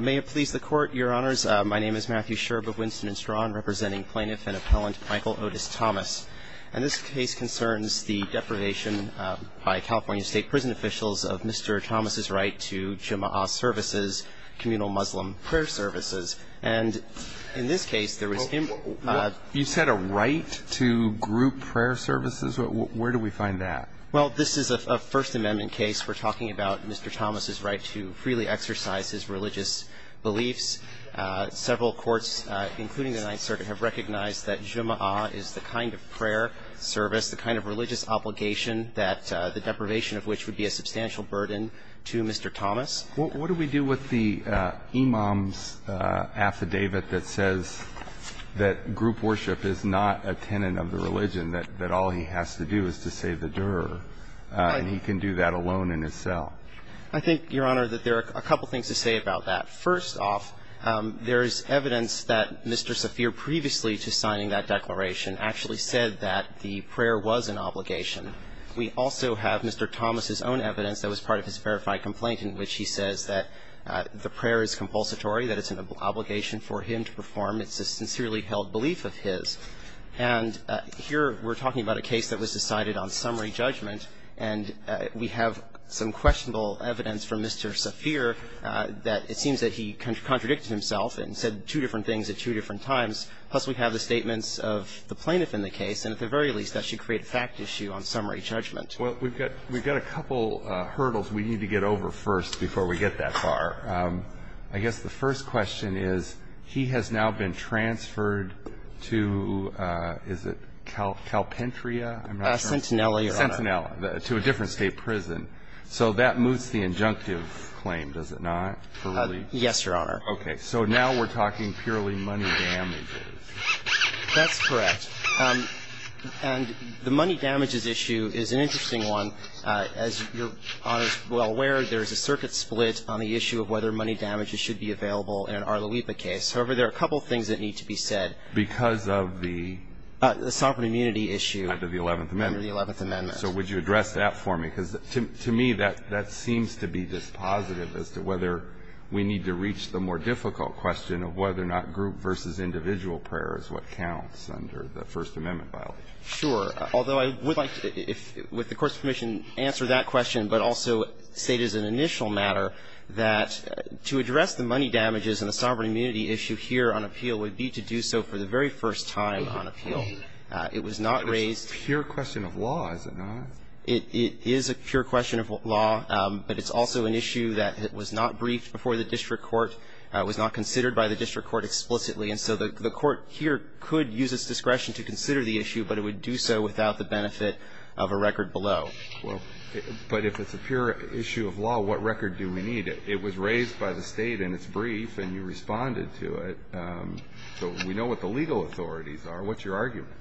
May it please the Court, Your Honors. My name is Matthew Sherb of Winston & Strawn, representing plaintiff and appellant Michael Otis Thomas. And this case concerns the deprivation by California State Prison officials of Mr. Thomas' right to Jumu'ah services, communal Muslim prayer services. And in this case, there was him ---- You said a right to group prayer services? Where do we find that? Well, this is a First Amendment case. We're talking about Mr. Thomas' right to freely exercise his religious beliefs. Several courts, including the Ninth Circuit, have recognized that Jumu'ah is the kind of prayer service, the kind of religious obligation, the deprivation of which would be a substantial burden to Mr. Thomas. What do we do with the imam's affidavit that says that group worship is not a tenet of the religion, that all he has to do is to save the doer, and he can do that alone in his cell? I think, Your Honor, that there are a couple things to say about that. First off, there is evidence that Mr. Saafir previously to signing that declaration actually said that the prayer was an obligation. We also have Mr. Thomas' own evidence that was part of his verified complaint in which he says that the prayer is compulsory, that it's an obligation for him to perform. It's a sincerely held belief of his. And here we're talking about a case that was decided on summary judgment, and we have some questionable evidence from Mr. Saafir that it seems that he contradicted himself and said two different things at two different times. Plus, we have the statements of the plaintiff in the case, and at the very least that should create a fact issue on summary judgment. Well, we've got a couple hurdles we need to get over first before we get that far. I guess the first question is, he has now been transferred to, is it Calpintria? I'm not sure. Sentinella, Your Honor. Sentinella, to a different state prison. So that moves the injunctive claim, does it not, for release? Yes, Your Honor. Okay. So now we're talking purely money damages. That's correct. And the money damages issue is an interesting one. As Your Honor is well aware, there is a circuit split on the issue of whether money damages should be available in an Arlawipa case. However, there are a couple things that need to be said. Because of the? The sovereign immunity issue. Under the Eleventh Amendment. Under the Eleventh Amendment. So would you address that for me? Because to me, that seems to be dispositive as to whether we need to reach the more difficult question of whether or not group versus individual prayer is what counts under the First Amendment violation. Sure. Although I would like to, with the Court's permission, answer that question, but also state as an initial matter that to address the money damages and the sovereign immunity issue here on appeal would be to do so for the very first time on appeal. It was not raised. But it's a pure question of law, is it not? It is a pure question of law, but it's also an issue that was not briefed before the district court, was not considered by the district court explicitly. And so the Court here could use its discretion to consider the issue, but it would do so without the benefit of a record below. Well, but if it's a pure issue of law, what record do we need? It was raised by the State, and it's brief, and you responded to it. So we know what the legal authorities are. What's your argument?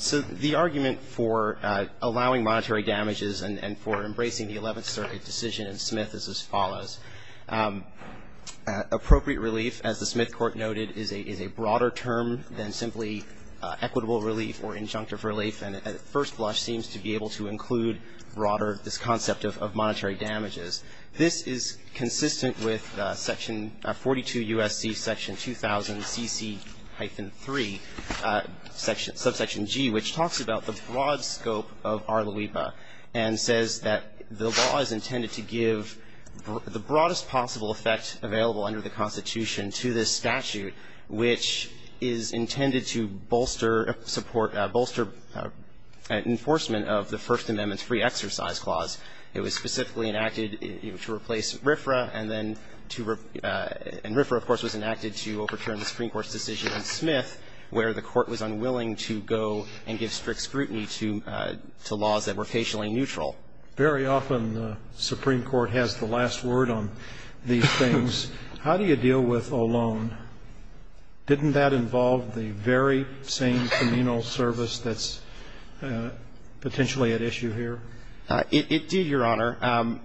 So the argument for allowing monetary damages and for embracing the Eleventh Circuit decision in Smith is as follows. Appropriate relief, as the Smith Court noted, is a broader term than simply equitable relief or injunctive relief, and at first blush seems to be able to include broader this concept of monetary damages. This is consistent with section 42 U.S.C. section 2000 CC-3, subsection G, which talks about the broad scope of Arloipa and says that the law is intended to give the broadest possible effect available under the Constitution to this statute, which is intended to bolster support, bolster enforcement of the First Amendment's free exercise clause. It was specifically enacted to replace RFRA, and then to ref – and RFRA, of course, was enacted to overturn the Supreme Court's decision in Smith, where the Court was unwilling to go and give strict scrutiny to laws that were occasionally neutral. Very often the Supreme Court has the last word on these things. How do you deal with Olón? Didn't that involve the very same communal service that's potentially at issue here? It did, Your Honor,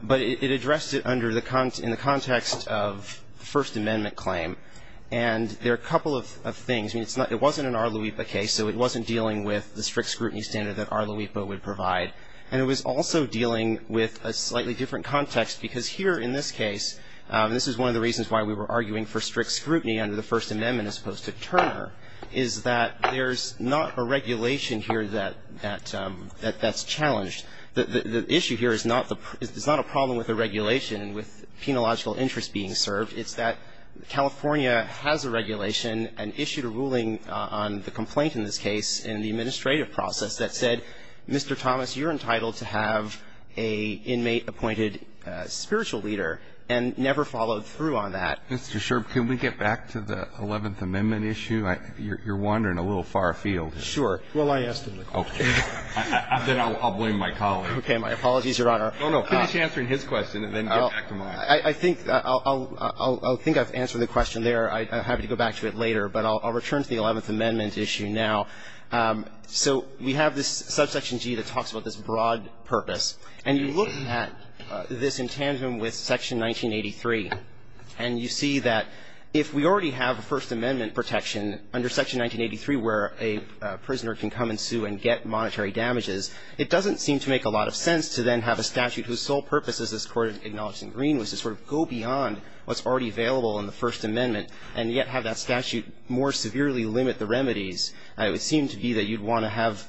but it addressed it under the – in the context of the First Amendment claim. And there are a couple of things. I mean, it's not – it wasn't an Arloipa case, so it wasn't dealing with the strict scrutiny standard that Arloipa would provide. And it was also dealing with a slightly different context, because here in this case, and this is one of the reasons why we were arguing for strict scrutiny under the First Amendment as opposed to Turner, is that there's not a regulation here that – that's challenged. The issue here is not the – it's not a problem with the regulation, with penological interest being served. It's that California has a regulation and issued a ruling on the complaint in this case in the administrative process that said, Mr. Thomas, you're entitled to have an inmate-appointed spiritual leader, and never followed through on that. Mr. Sherb, can we get back to the Eleventh Amendment issue? You're wandering a little far afield. Sure. Well, I asked him the question. Okay. Then I'll blame my colleague. Okay. My apologies, Your Honor. No, no. Finish answering his question and then get back to mine. I think I'll – I think I've answered the question there. I'm happy to go back to it later. But I'll return to the Eleventh Amendment issue now. So we have this subsection G that talks about this broad purpose. And you look at this in tandem with Section 1983, and you see that if we already have a First Amendment protection under Section 1983 where a prisoner can come and sue and get monetary damages, it doesn't seem to make a lot of sense to then have a statute whose sole purpose, as this Court acknowledged in Green, was to sort of go beyond what's already available in the First Amendment and yet have that statute more severely limit the remedies. It would seem to be that you'd want to have,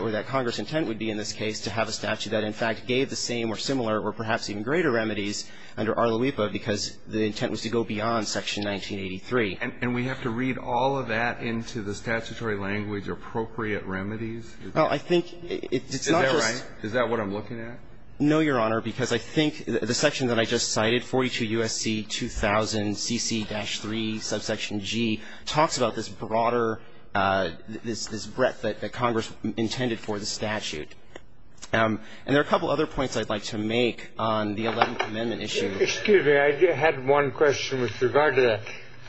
or that Congress' intent would be in this case, to have a statute that in fact gave the same or similar or perhaps even greater remedies under Arloepa because the intent was to go beyond Section 1983. And we have to read all of that into the statutory language, appropriate remedies? Well, I think it's not just – Is that right? Is that what I'm looking at? No, Your Honor, because I think the section that I just cited, 42 U.S.C. 2000 CC-3 subsection G, talks about this broader – this breadth that Congress intended for the statute. And there are a couple other points I'd like to make on the Eleventh Amendment issue. Excuse me. I had one question with regard to that.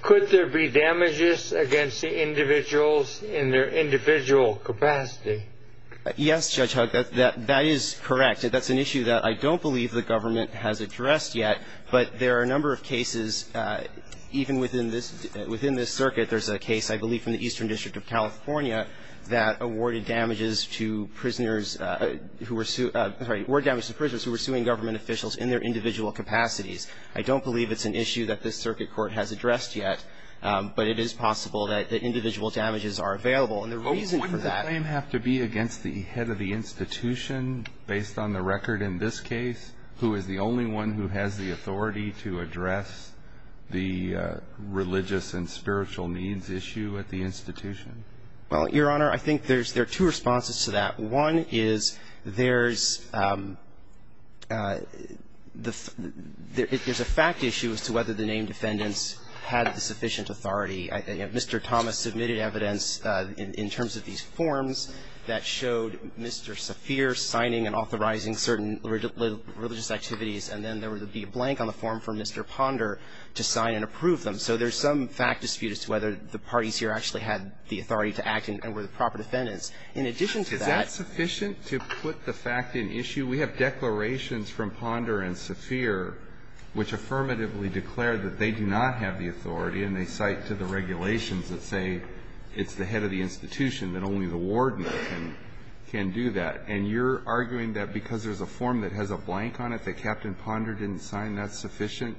Could there be damages against the individuals in their individual capacity? Yes, Judge Hugg. That is correct. That's an issue that I don't believe the government has addressed yet. But there are a number of cases, even within this – within this circuit, there's a case, I believe, from the Eastern District of California that awarded damages to prisoners who were – sorry, awarded damages to prisoners who were suing government officials in their individual capacities. I don't believe it's an issue that this circuit court has addressed yet. But it is possible that individual damages are available. And the reason for that – Based on the record in this case, who is the only one who has the authority to address the religious and spiritual needs issue at the institution? Well, Your Honor, I think there's – there are two responses to that. One is there's – there's a fact issue as to whether the named defendants had the sufficient authority. Mr. Thomas submitted evidence in terms of these forms that showed Mr. Saphir signing and authorizing certain religious activities. And then there would be a blank on the form for Mr. Ponder to sign and approve them. So there's some fact dispute as to whether the parties here actually had the authority to act and were the proper defendants. In addition to that – Is that sufficient to put the fact in issue? We have declarations from Ponder and Saphir which affirmatively declare that they do not have the authority, and they cite to the regulations that say it's the head of the institution, that only the warden can do that. And you're arguing that because there's a form that has a blank on it that Captain Ponder didn't sign, that's sufficient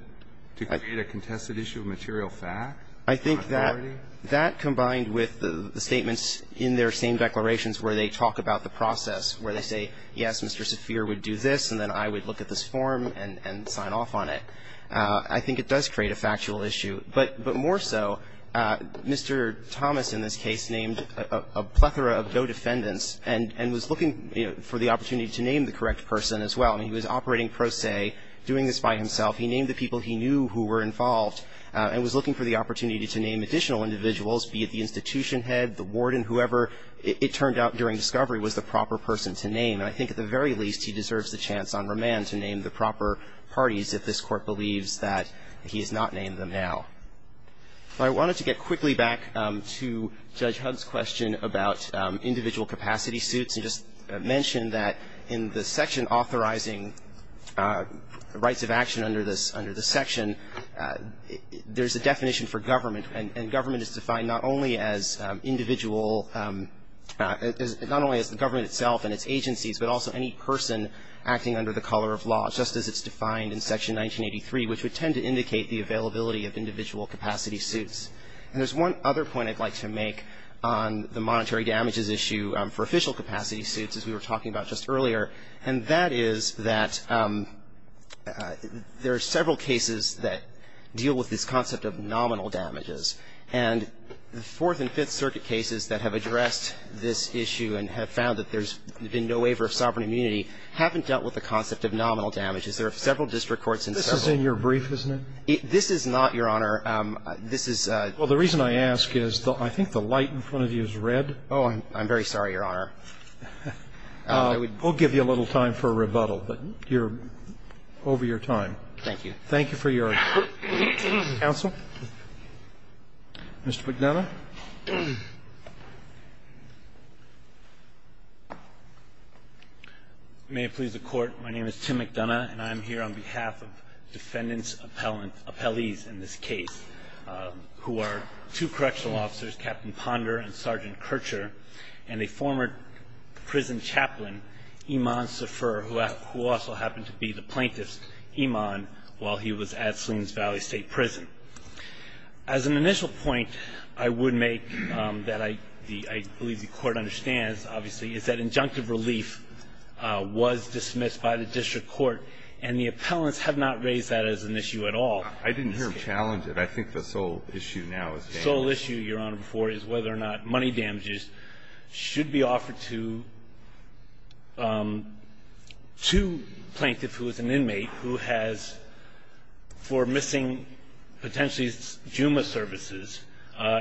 to create a contested issue of material fact, authority? I think that – that combined with the statements in their same declarations where they talk about the process, where they say, yes, Mr. Saphir would do this, and then I would look at this form and – and sign off on it, I think it does create a factual issue. But – but more so, Mr. Thomas in this case named a plethora of go-defendants and – and was looking for the opportunity to name the correct person as well. I mean, he was operating pro se, doing this by himself. He named the people he knew who were involved and was looking for the opportunity to name additional individuals, be it the institution head, the warden, whoever it turned out during discovery was the proper person to name. And I think at the very least, he deserves the chance on remand to name the proper parties if this Court believes that he has not named them now. Well, I wanted to get quickly back to Judge Hugg's question about individual capacity suits and just mention that in the section authorizing rights of action under this – under this section, there's a definition for government. And government is defined not only as individual – not only as the government itself and its agencies, but also any person acting under the color of law, just as it's defined in Section 1983, which would tend to indicate the availability of individual capacity suits. And there's one other point I'd like to make on the monetary damages issue for official capacity suits, as we were talking about just earlier, and that is that there are several cases that deal with this concept of nominal damages. And the Fourth and Fifth Circuit cases that have addressed this issue and have found that there's been no waiver of sovereign immunity haven't dealt with the concept of nominal damages. There are several district courts in several of them. This is in your brief, isn't it? This is not, Your Honor. This is – Well, the reason I ask is I think the light in front of you is red. Oh, I'm very sorry, Your Honor. We'll give you a little time for a rebuttal, but you're over your time. Thank you. Thank you for your counsel. Mr. McDonough. Thank you, Your Honor. May it please the Court, my name is Tim McDonough, and I'm here on behalf of defendants appellees in this case, who are two correctional officers, Captain Ponder and Sergeant Kircher, and a former prison chaplain, Iman Sefer, who also happened to be the plaintiff's Iman while he was at Salinas Valley State Prison. As an initial point I would make that I believe the Court understands, obviously, is that injunctive relief was dismissed by the district court, and the appellants have not raised that as an issue at all. I didn't hear him challenge it. I think the sole issue now is damages. The sole issue, Your Honor, is whether or not money damages should be offered to a plaintiff who is an inmate who has, for missing potentially Juma services,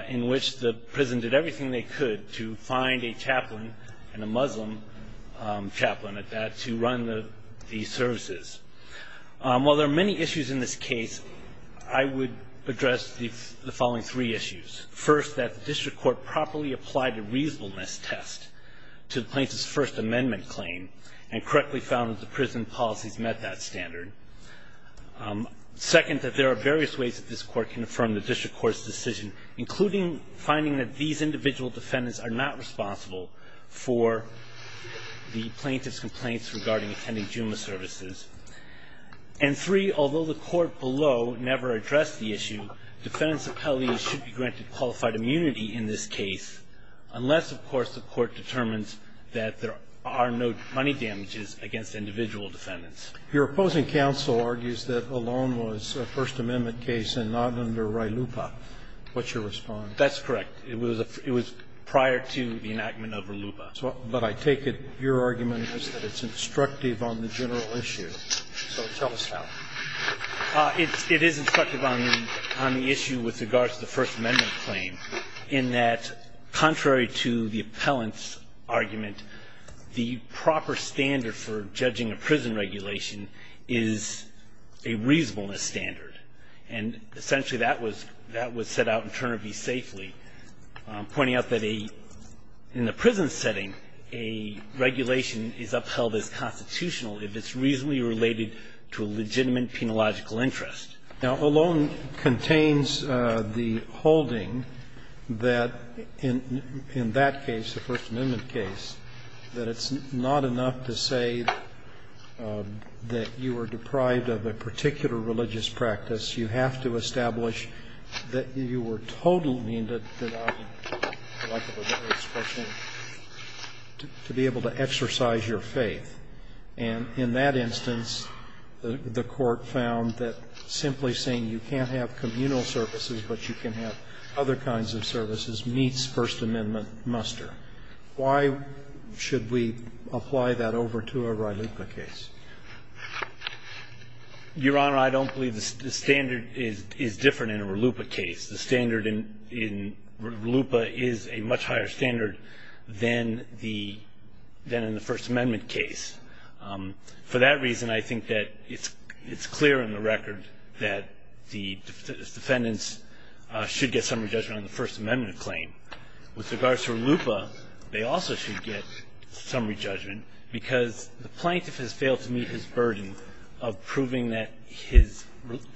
in which the prison did everything they could to find a chaplain, and a Muslim chaplain at that, to run the services. While there are many issues in this case, I would address the following three issues. First, that the district court properly applied a reasonableness test to the plaintiff's First Amendment claim, and correctly found that the prison policies met that standard. Second, that there are various ways that this court can affirm the district court's decision, including finding that these individual defendants are not responsible for the plaintiff's complaints regarding attending Juma services. And three, although the court below never addressed the issue, defendants' responsibilities should be granted qualified immunity in this case, unless, of course, the court determines that there are no money damages against individual defendants. Your opposing counsel argues that Olón was a First Amendment case and not under Ralupa. What's your response? That's correct. It was prior to the enactment of Ralupa. But I take it your argument is that it's instructive on the general issue. So tell us how. It is instructive on the issue with regard to the First Amendment claim, in that, contrary to the appellant's argument, the proper standard for judging a prison regulation is a reasonableness standard. And essentially that was set out in Turner v. Safely, pointing out that in the prison setting, a regulation is upheld as constitutional if it's reasonably related to a legitimate penological interest. Now, Olón contains the holding that in that case, the First Amendment case, that it's not enough to say that you were deprived of a particular religious practice. You have to establish that you were totally denied, for lack of a better expression, to be able to exercise your faith. And in that instance, the Court found that simply saying you can't have communal services but you can have other kinds of services meets First Amendment muster. Why should we apply that over to a Ralupa case? Your Honor, I don't believe the standard is different in a Ralupa case. The standard in Ralupa is a much higher standard than in the First Amendment case. For that reason, I think that it's clear in the record that the defendants should get summary judgment on the First Amendment claim. With regards to Ralupa, they also should get summary judgment because the plaintiff has failed to meet his burden of proving that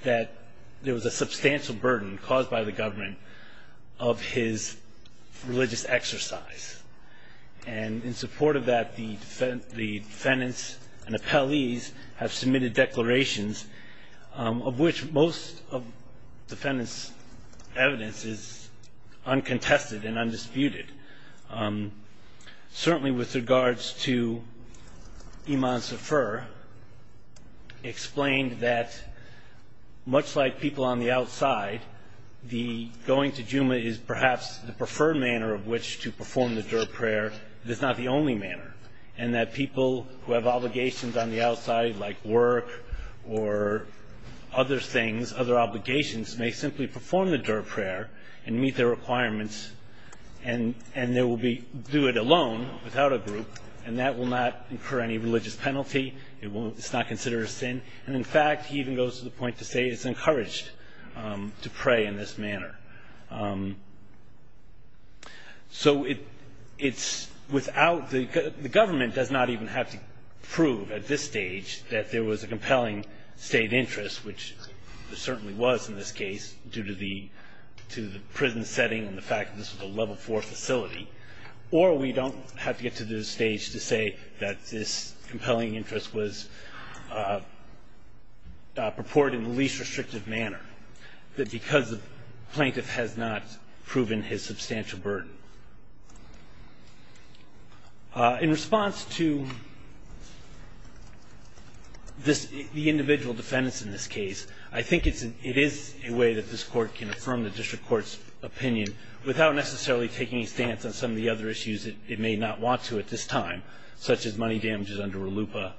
there was a substantial burden caused by the government of his religious exercise. And in support of that, the defendants and appellees have submitted declarations of which most of the defendants' evidence is uncontested and undisputed. Certainly with regards to Iman Sefer, explained that much like people on the outside, the going to Juma is perhaps the preferred manner of which to perform the Dürr prayer. It is not the only manner, and that people who have obligations on the outside like work or other things, other obligations, may simply perform the Dürr prayer and meet their obligations, and do it alone, without a group, and that will not incur any religious penalty. It's not considered a sin. And in fact, he even goes to the point to say it's encouraged to pray in this manner. So it's without the government does not even have to prove at this stage that there was a compelling state interest, which there certainly was in this case, due to the prison setting and the fact that this was a level four facility, or we don't have to get to the stage to say that this compelling interest was purported in the least restrictive manner, that because the plaintiff has not proven his substantial burden. In response to this, the individual defendants in this case, I think it is a way that this court can affirm the district court's opinion without necessarily taking a stance on some of the other issues that it may not want to at this time, such as money damages under RLUIPA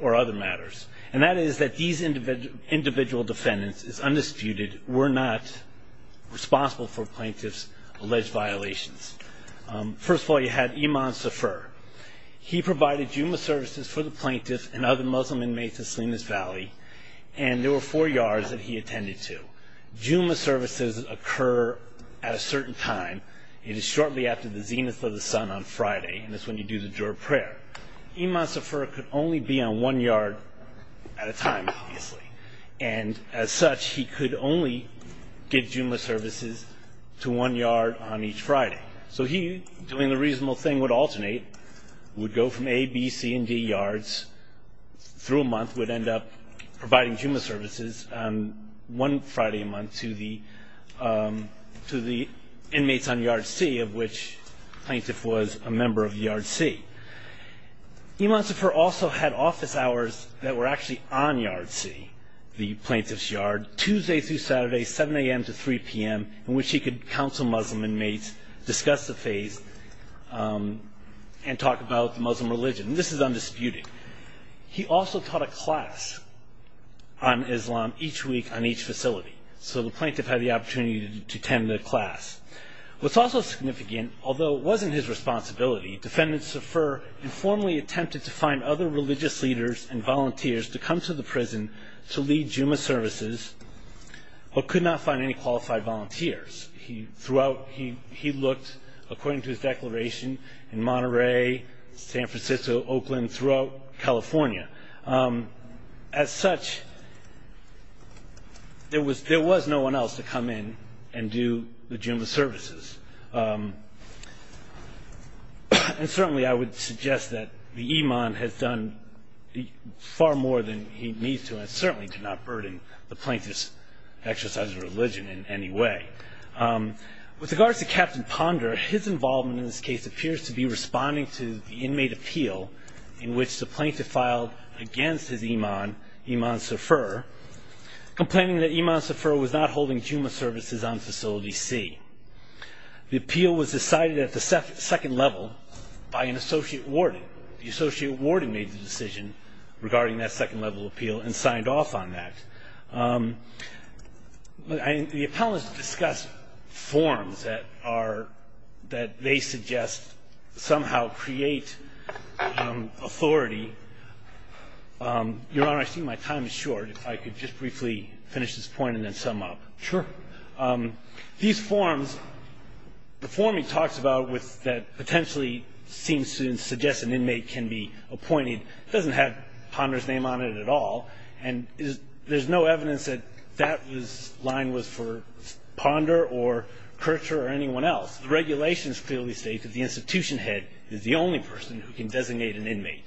or other matters. And that is that these individual defendants, it's undisputed, were not responsible for plaintiff's alleged violations. First of all, you had Iman Safar. He provided Juma services for the plaintiff and other Muslim inmates in Salinas Valley, and there were four yards that he attended to. Juma services occur at a certain time. It is shortly after the zenith of the sun on Friday, and that's when you do the Dürer prayer. Iman Safar could only be on one yard at a time, obviously. And as such, he could only give Juma services to one yard on each Friday. So he, doing the reasonable thing, would alternate, would go from A, B, C, and D yards through a month, would end up providing Juma services one Friday a month to the inmates on yard C, of which the plaintiff was a member of yard C. Iman Safar also had office hours that were actually on yard C, the plaintiff's yard, Tuesday through Saturday, 7 a.m. to 3 p.m., in which he could counsel Muslim inmates, discuss the faith, and talk about the Muslim religion. This is undisputed. He also taught a class on Islam each week on each facility, so the plaintiff had the opportunity to attend the class. What's also significant, although it wasn't his responsibility, defendant Safar informally attempted to find other religious leaders and volunteers to come to the prison to lead Juma services, but could not find any qualified volunteers. He looked, according to his declaration, in Monterey, San Francisco, Oakland, throughout California. As such, there was no one else to come in and do the Juma services. And certainly I would suggest that the Iman has done far more than he needs to, and certainly did not burden the plaintiff's exercise of religion in any way. With regards to Captain Ponder, his involvement in this case appears to be responding to the inmate appeal in which the plaintiff filed against his Iman, Iman Safar, complaining that Iman Safar was not holding Juma services on facility C. The appeal was decided at the second level by an associate warden. The associate warden made the decision regarding that second level appeal and signed off on that. The appellants discuss forms that are – that they suggest somehow create authority. Your Honor, I see my time is short. If I could just briefly finish this point and then sum up. Sure. These forms – the form he talks about that potentially seems to suggest an inmate can be appointed doesn't have Ponder's name on it at all, and there's no evidence that that line was for Ponder or Kircher or anyone else. The regulations clearly state that the institution head is the only person who can designate an inmate.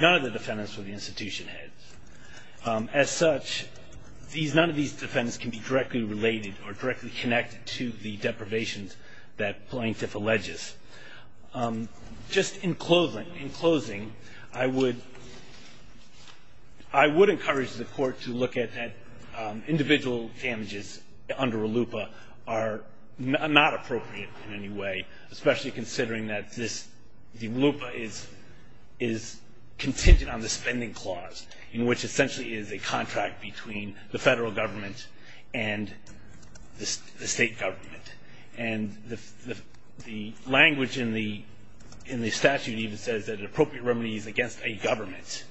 None of the defendants were the institution head. As such, these – none of these defendants can be directly related or directly connected to the deprivations that the plaintiff alleges. Just in closing, I would encourage the Court to look at that individual damages under a LUPA are not appropriate in any way, especially considering that this – the LUPA is contingent on the spending clause in which essentially is a contract between the federal government and the state government. And the language in the statute even says that an appropriate remedy is against a government.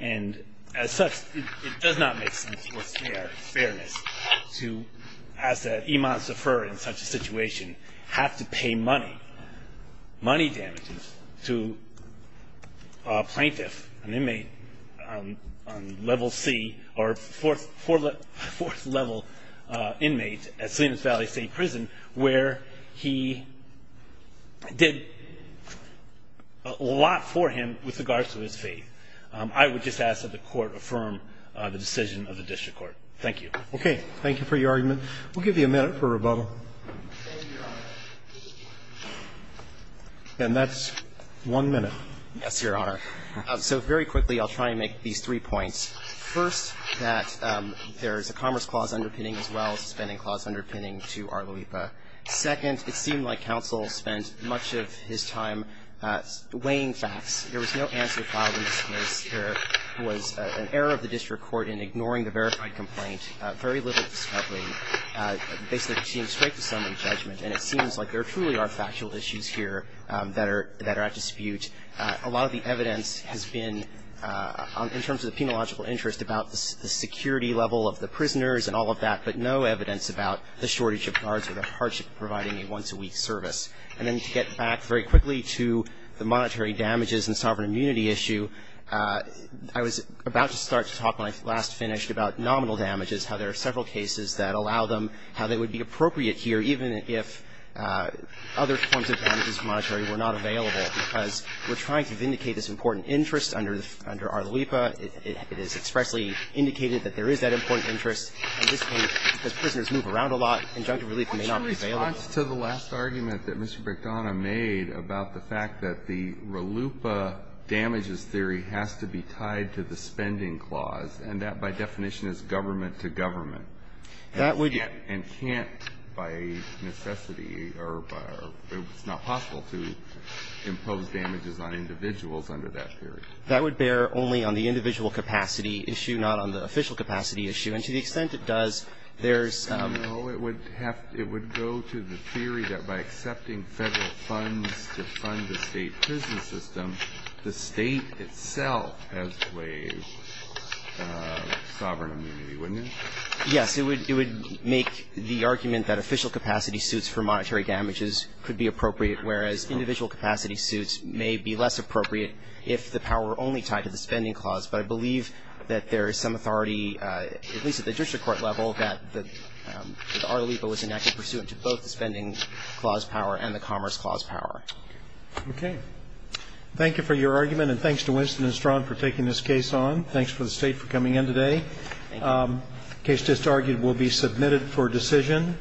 And as such, it does not make sense for fairness to ask that Iman Zafar in such a situation have to pay money, money damages, to a plaintiff, an inmate on level C or fourth level inmate at Salinas Valley State Prison where he did a lot for him with regards to his faith. I would just ask that the Court affirm the decision of the district court. Thank you. Roberts. Okay. Thank you for your argument. We'll give you a minute for rebuttal. And that's one minute. Yes, Your Honor. So very quickly, I'll try and make these three points. First, that there is a commerce clause underpinning as well as a spending clause underpinning to our LUPA. Second, it seemed like counsel spent much of his time weighing facts. There was no answer filed in this case. There was an error of the district court in ignoring the verified complaint, very little discovery. Basically, it seems straight to someone's judgment. And it seems like there truly are factual issues here that are at dispute. A lot of the evidence has been, in terms of the penological interest, about the security level of the prisoners and all of that, but no evidence about the shortage of guards or the hardship of providing a once-a-week service. And then to get back very quickly to the monetary damages and sovereign immunity issue, I was about to start to talk when I last finished about nominal damages, how there are several cases that allow them, how they would be appropriate here even if other forms of damages were not available. Because we're trying to vindicate this important interest under our LUPA. It is expressly indicated that there is that important interest. At this point, because prisoners move around a lot, injunctive relief may not be available. Alito, what's your response to the last argument that Mr. Brichtona made about the fact that the RLUPA damages theory has to be tied to the spending clause, and that by definition is government-to-government, and can't by necessity or it's not possible to impose damages on individuals under that theory? That would bear only on the individual capacity issue, not on the official capacity issue. And to the extent it does, there's some ---- No. It would have to go to the theory that by accepting Federal funds to fund the State prison system, the State itself has to waive sovereign immunity, wouldn't it? Yes. It would make the argument that official capacity suits for monetary damages could be appropriate, whereas individual capacity suits may be less appropriate if the power were only tied to the spending clause. But I believe that there is some authority, at least at the district court level, that the RLUPA was enacted pursuant to both the spending clause power and the commerce clause power. Okay. Thank you for your argument, and thanks to Winston and Strachan for taking this case on. Thanks for the State for coming in today. Thank you. The case just argued will be submitted for decision.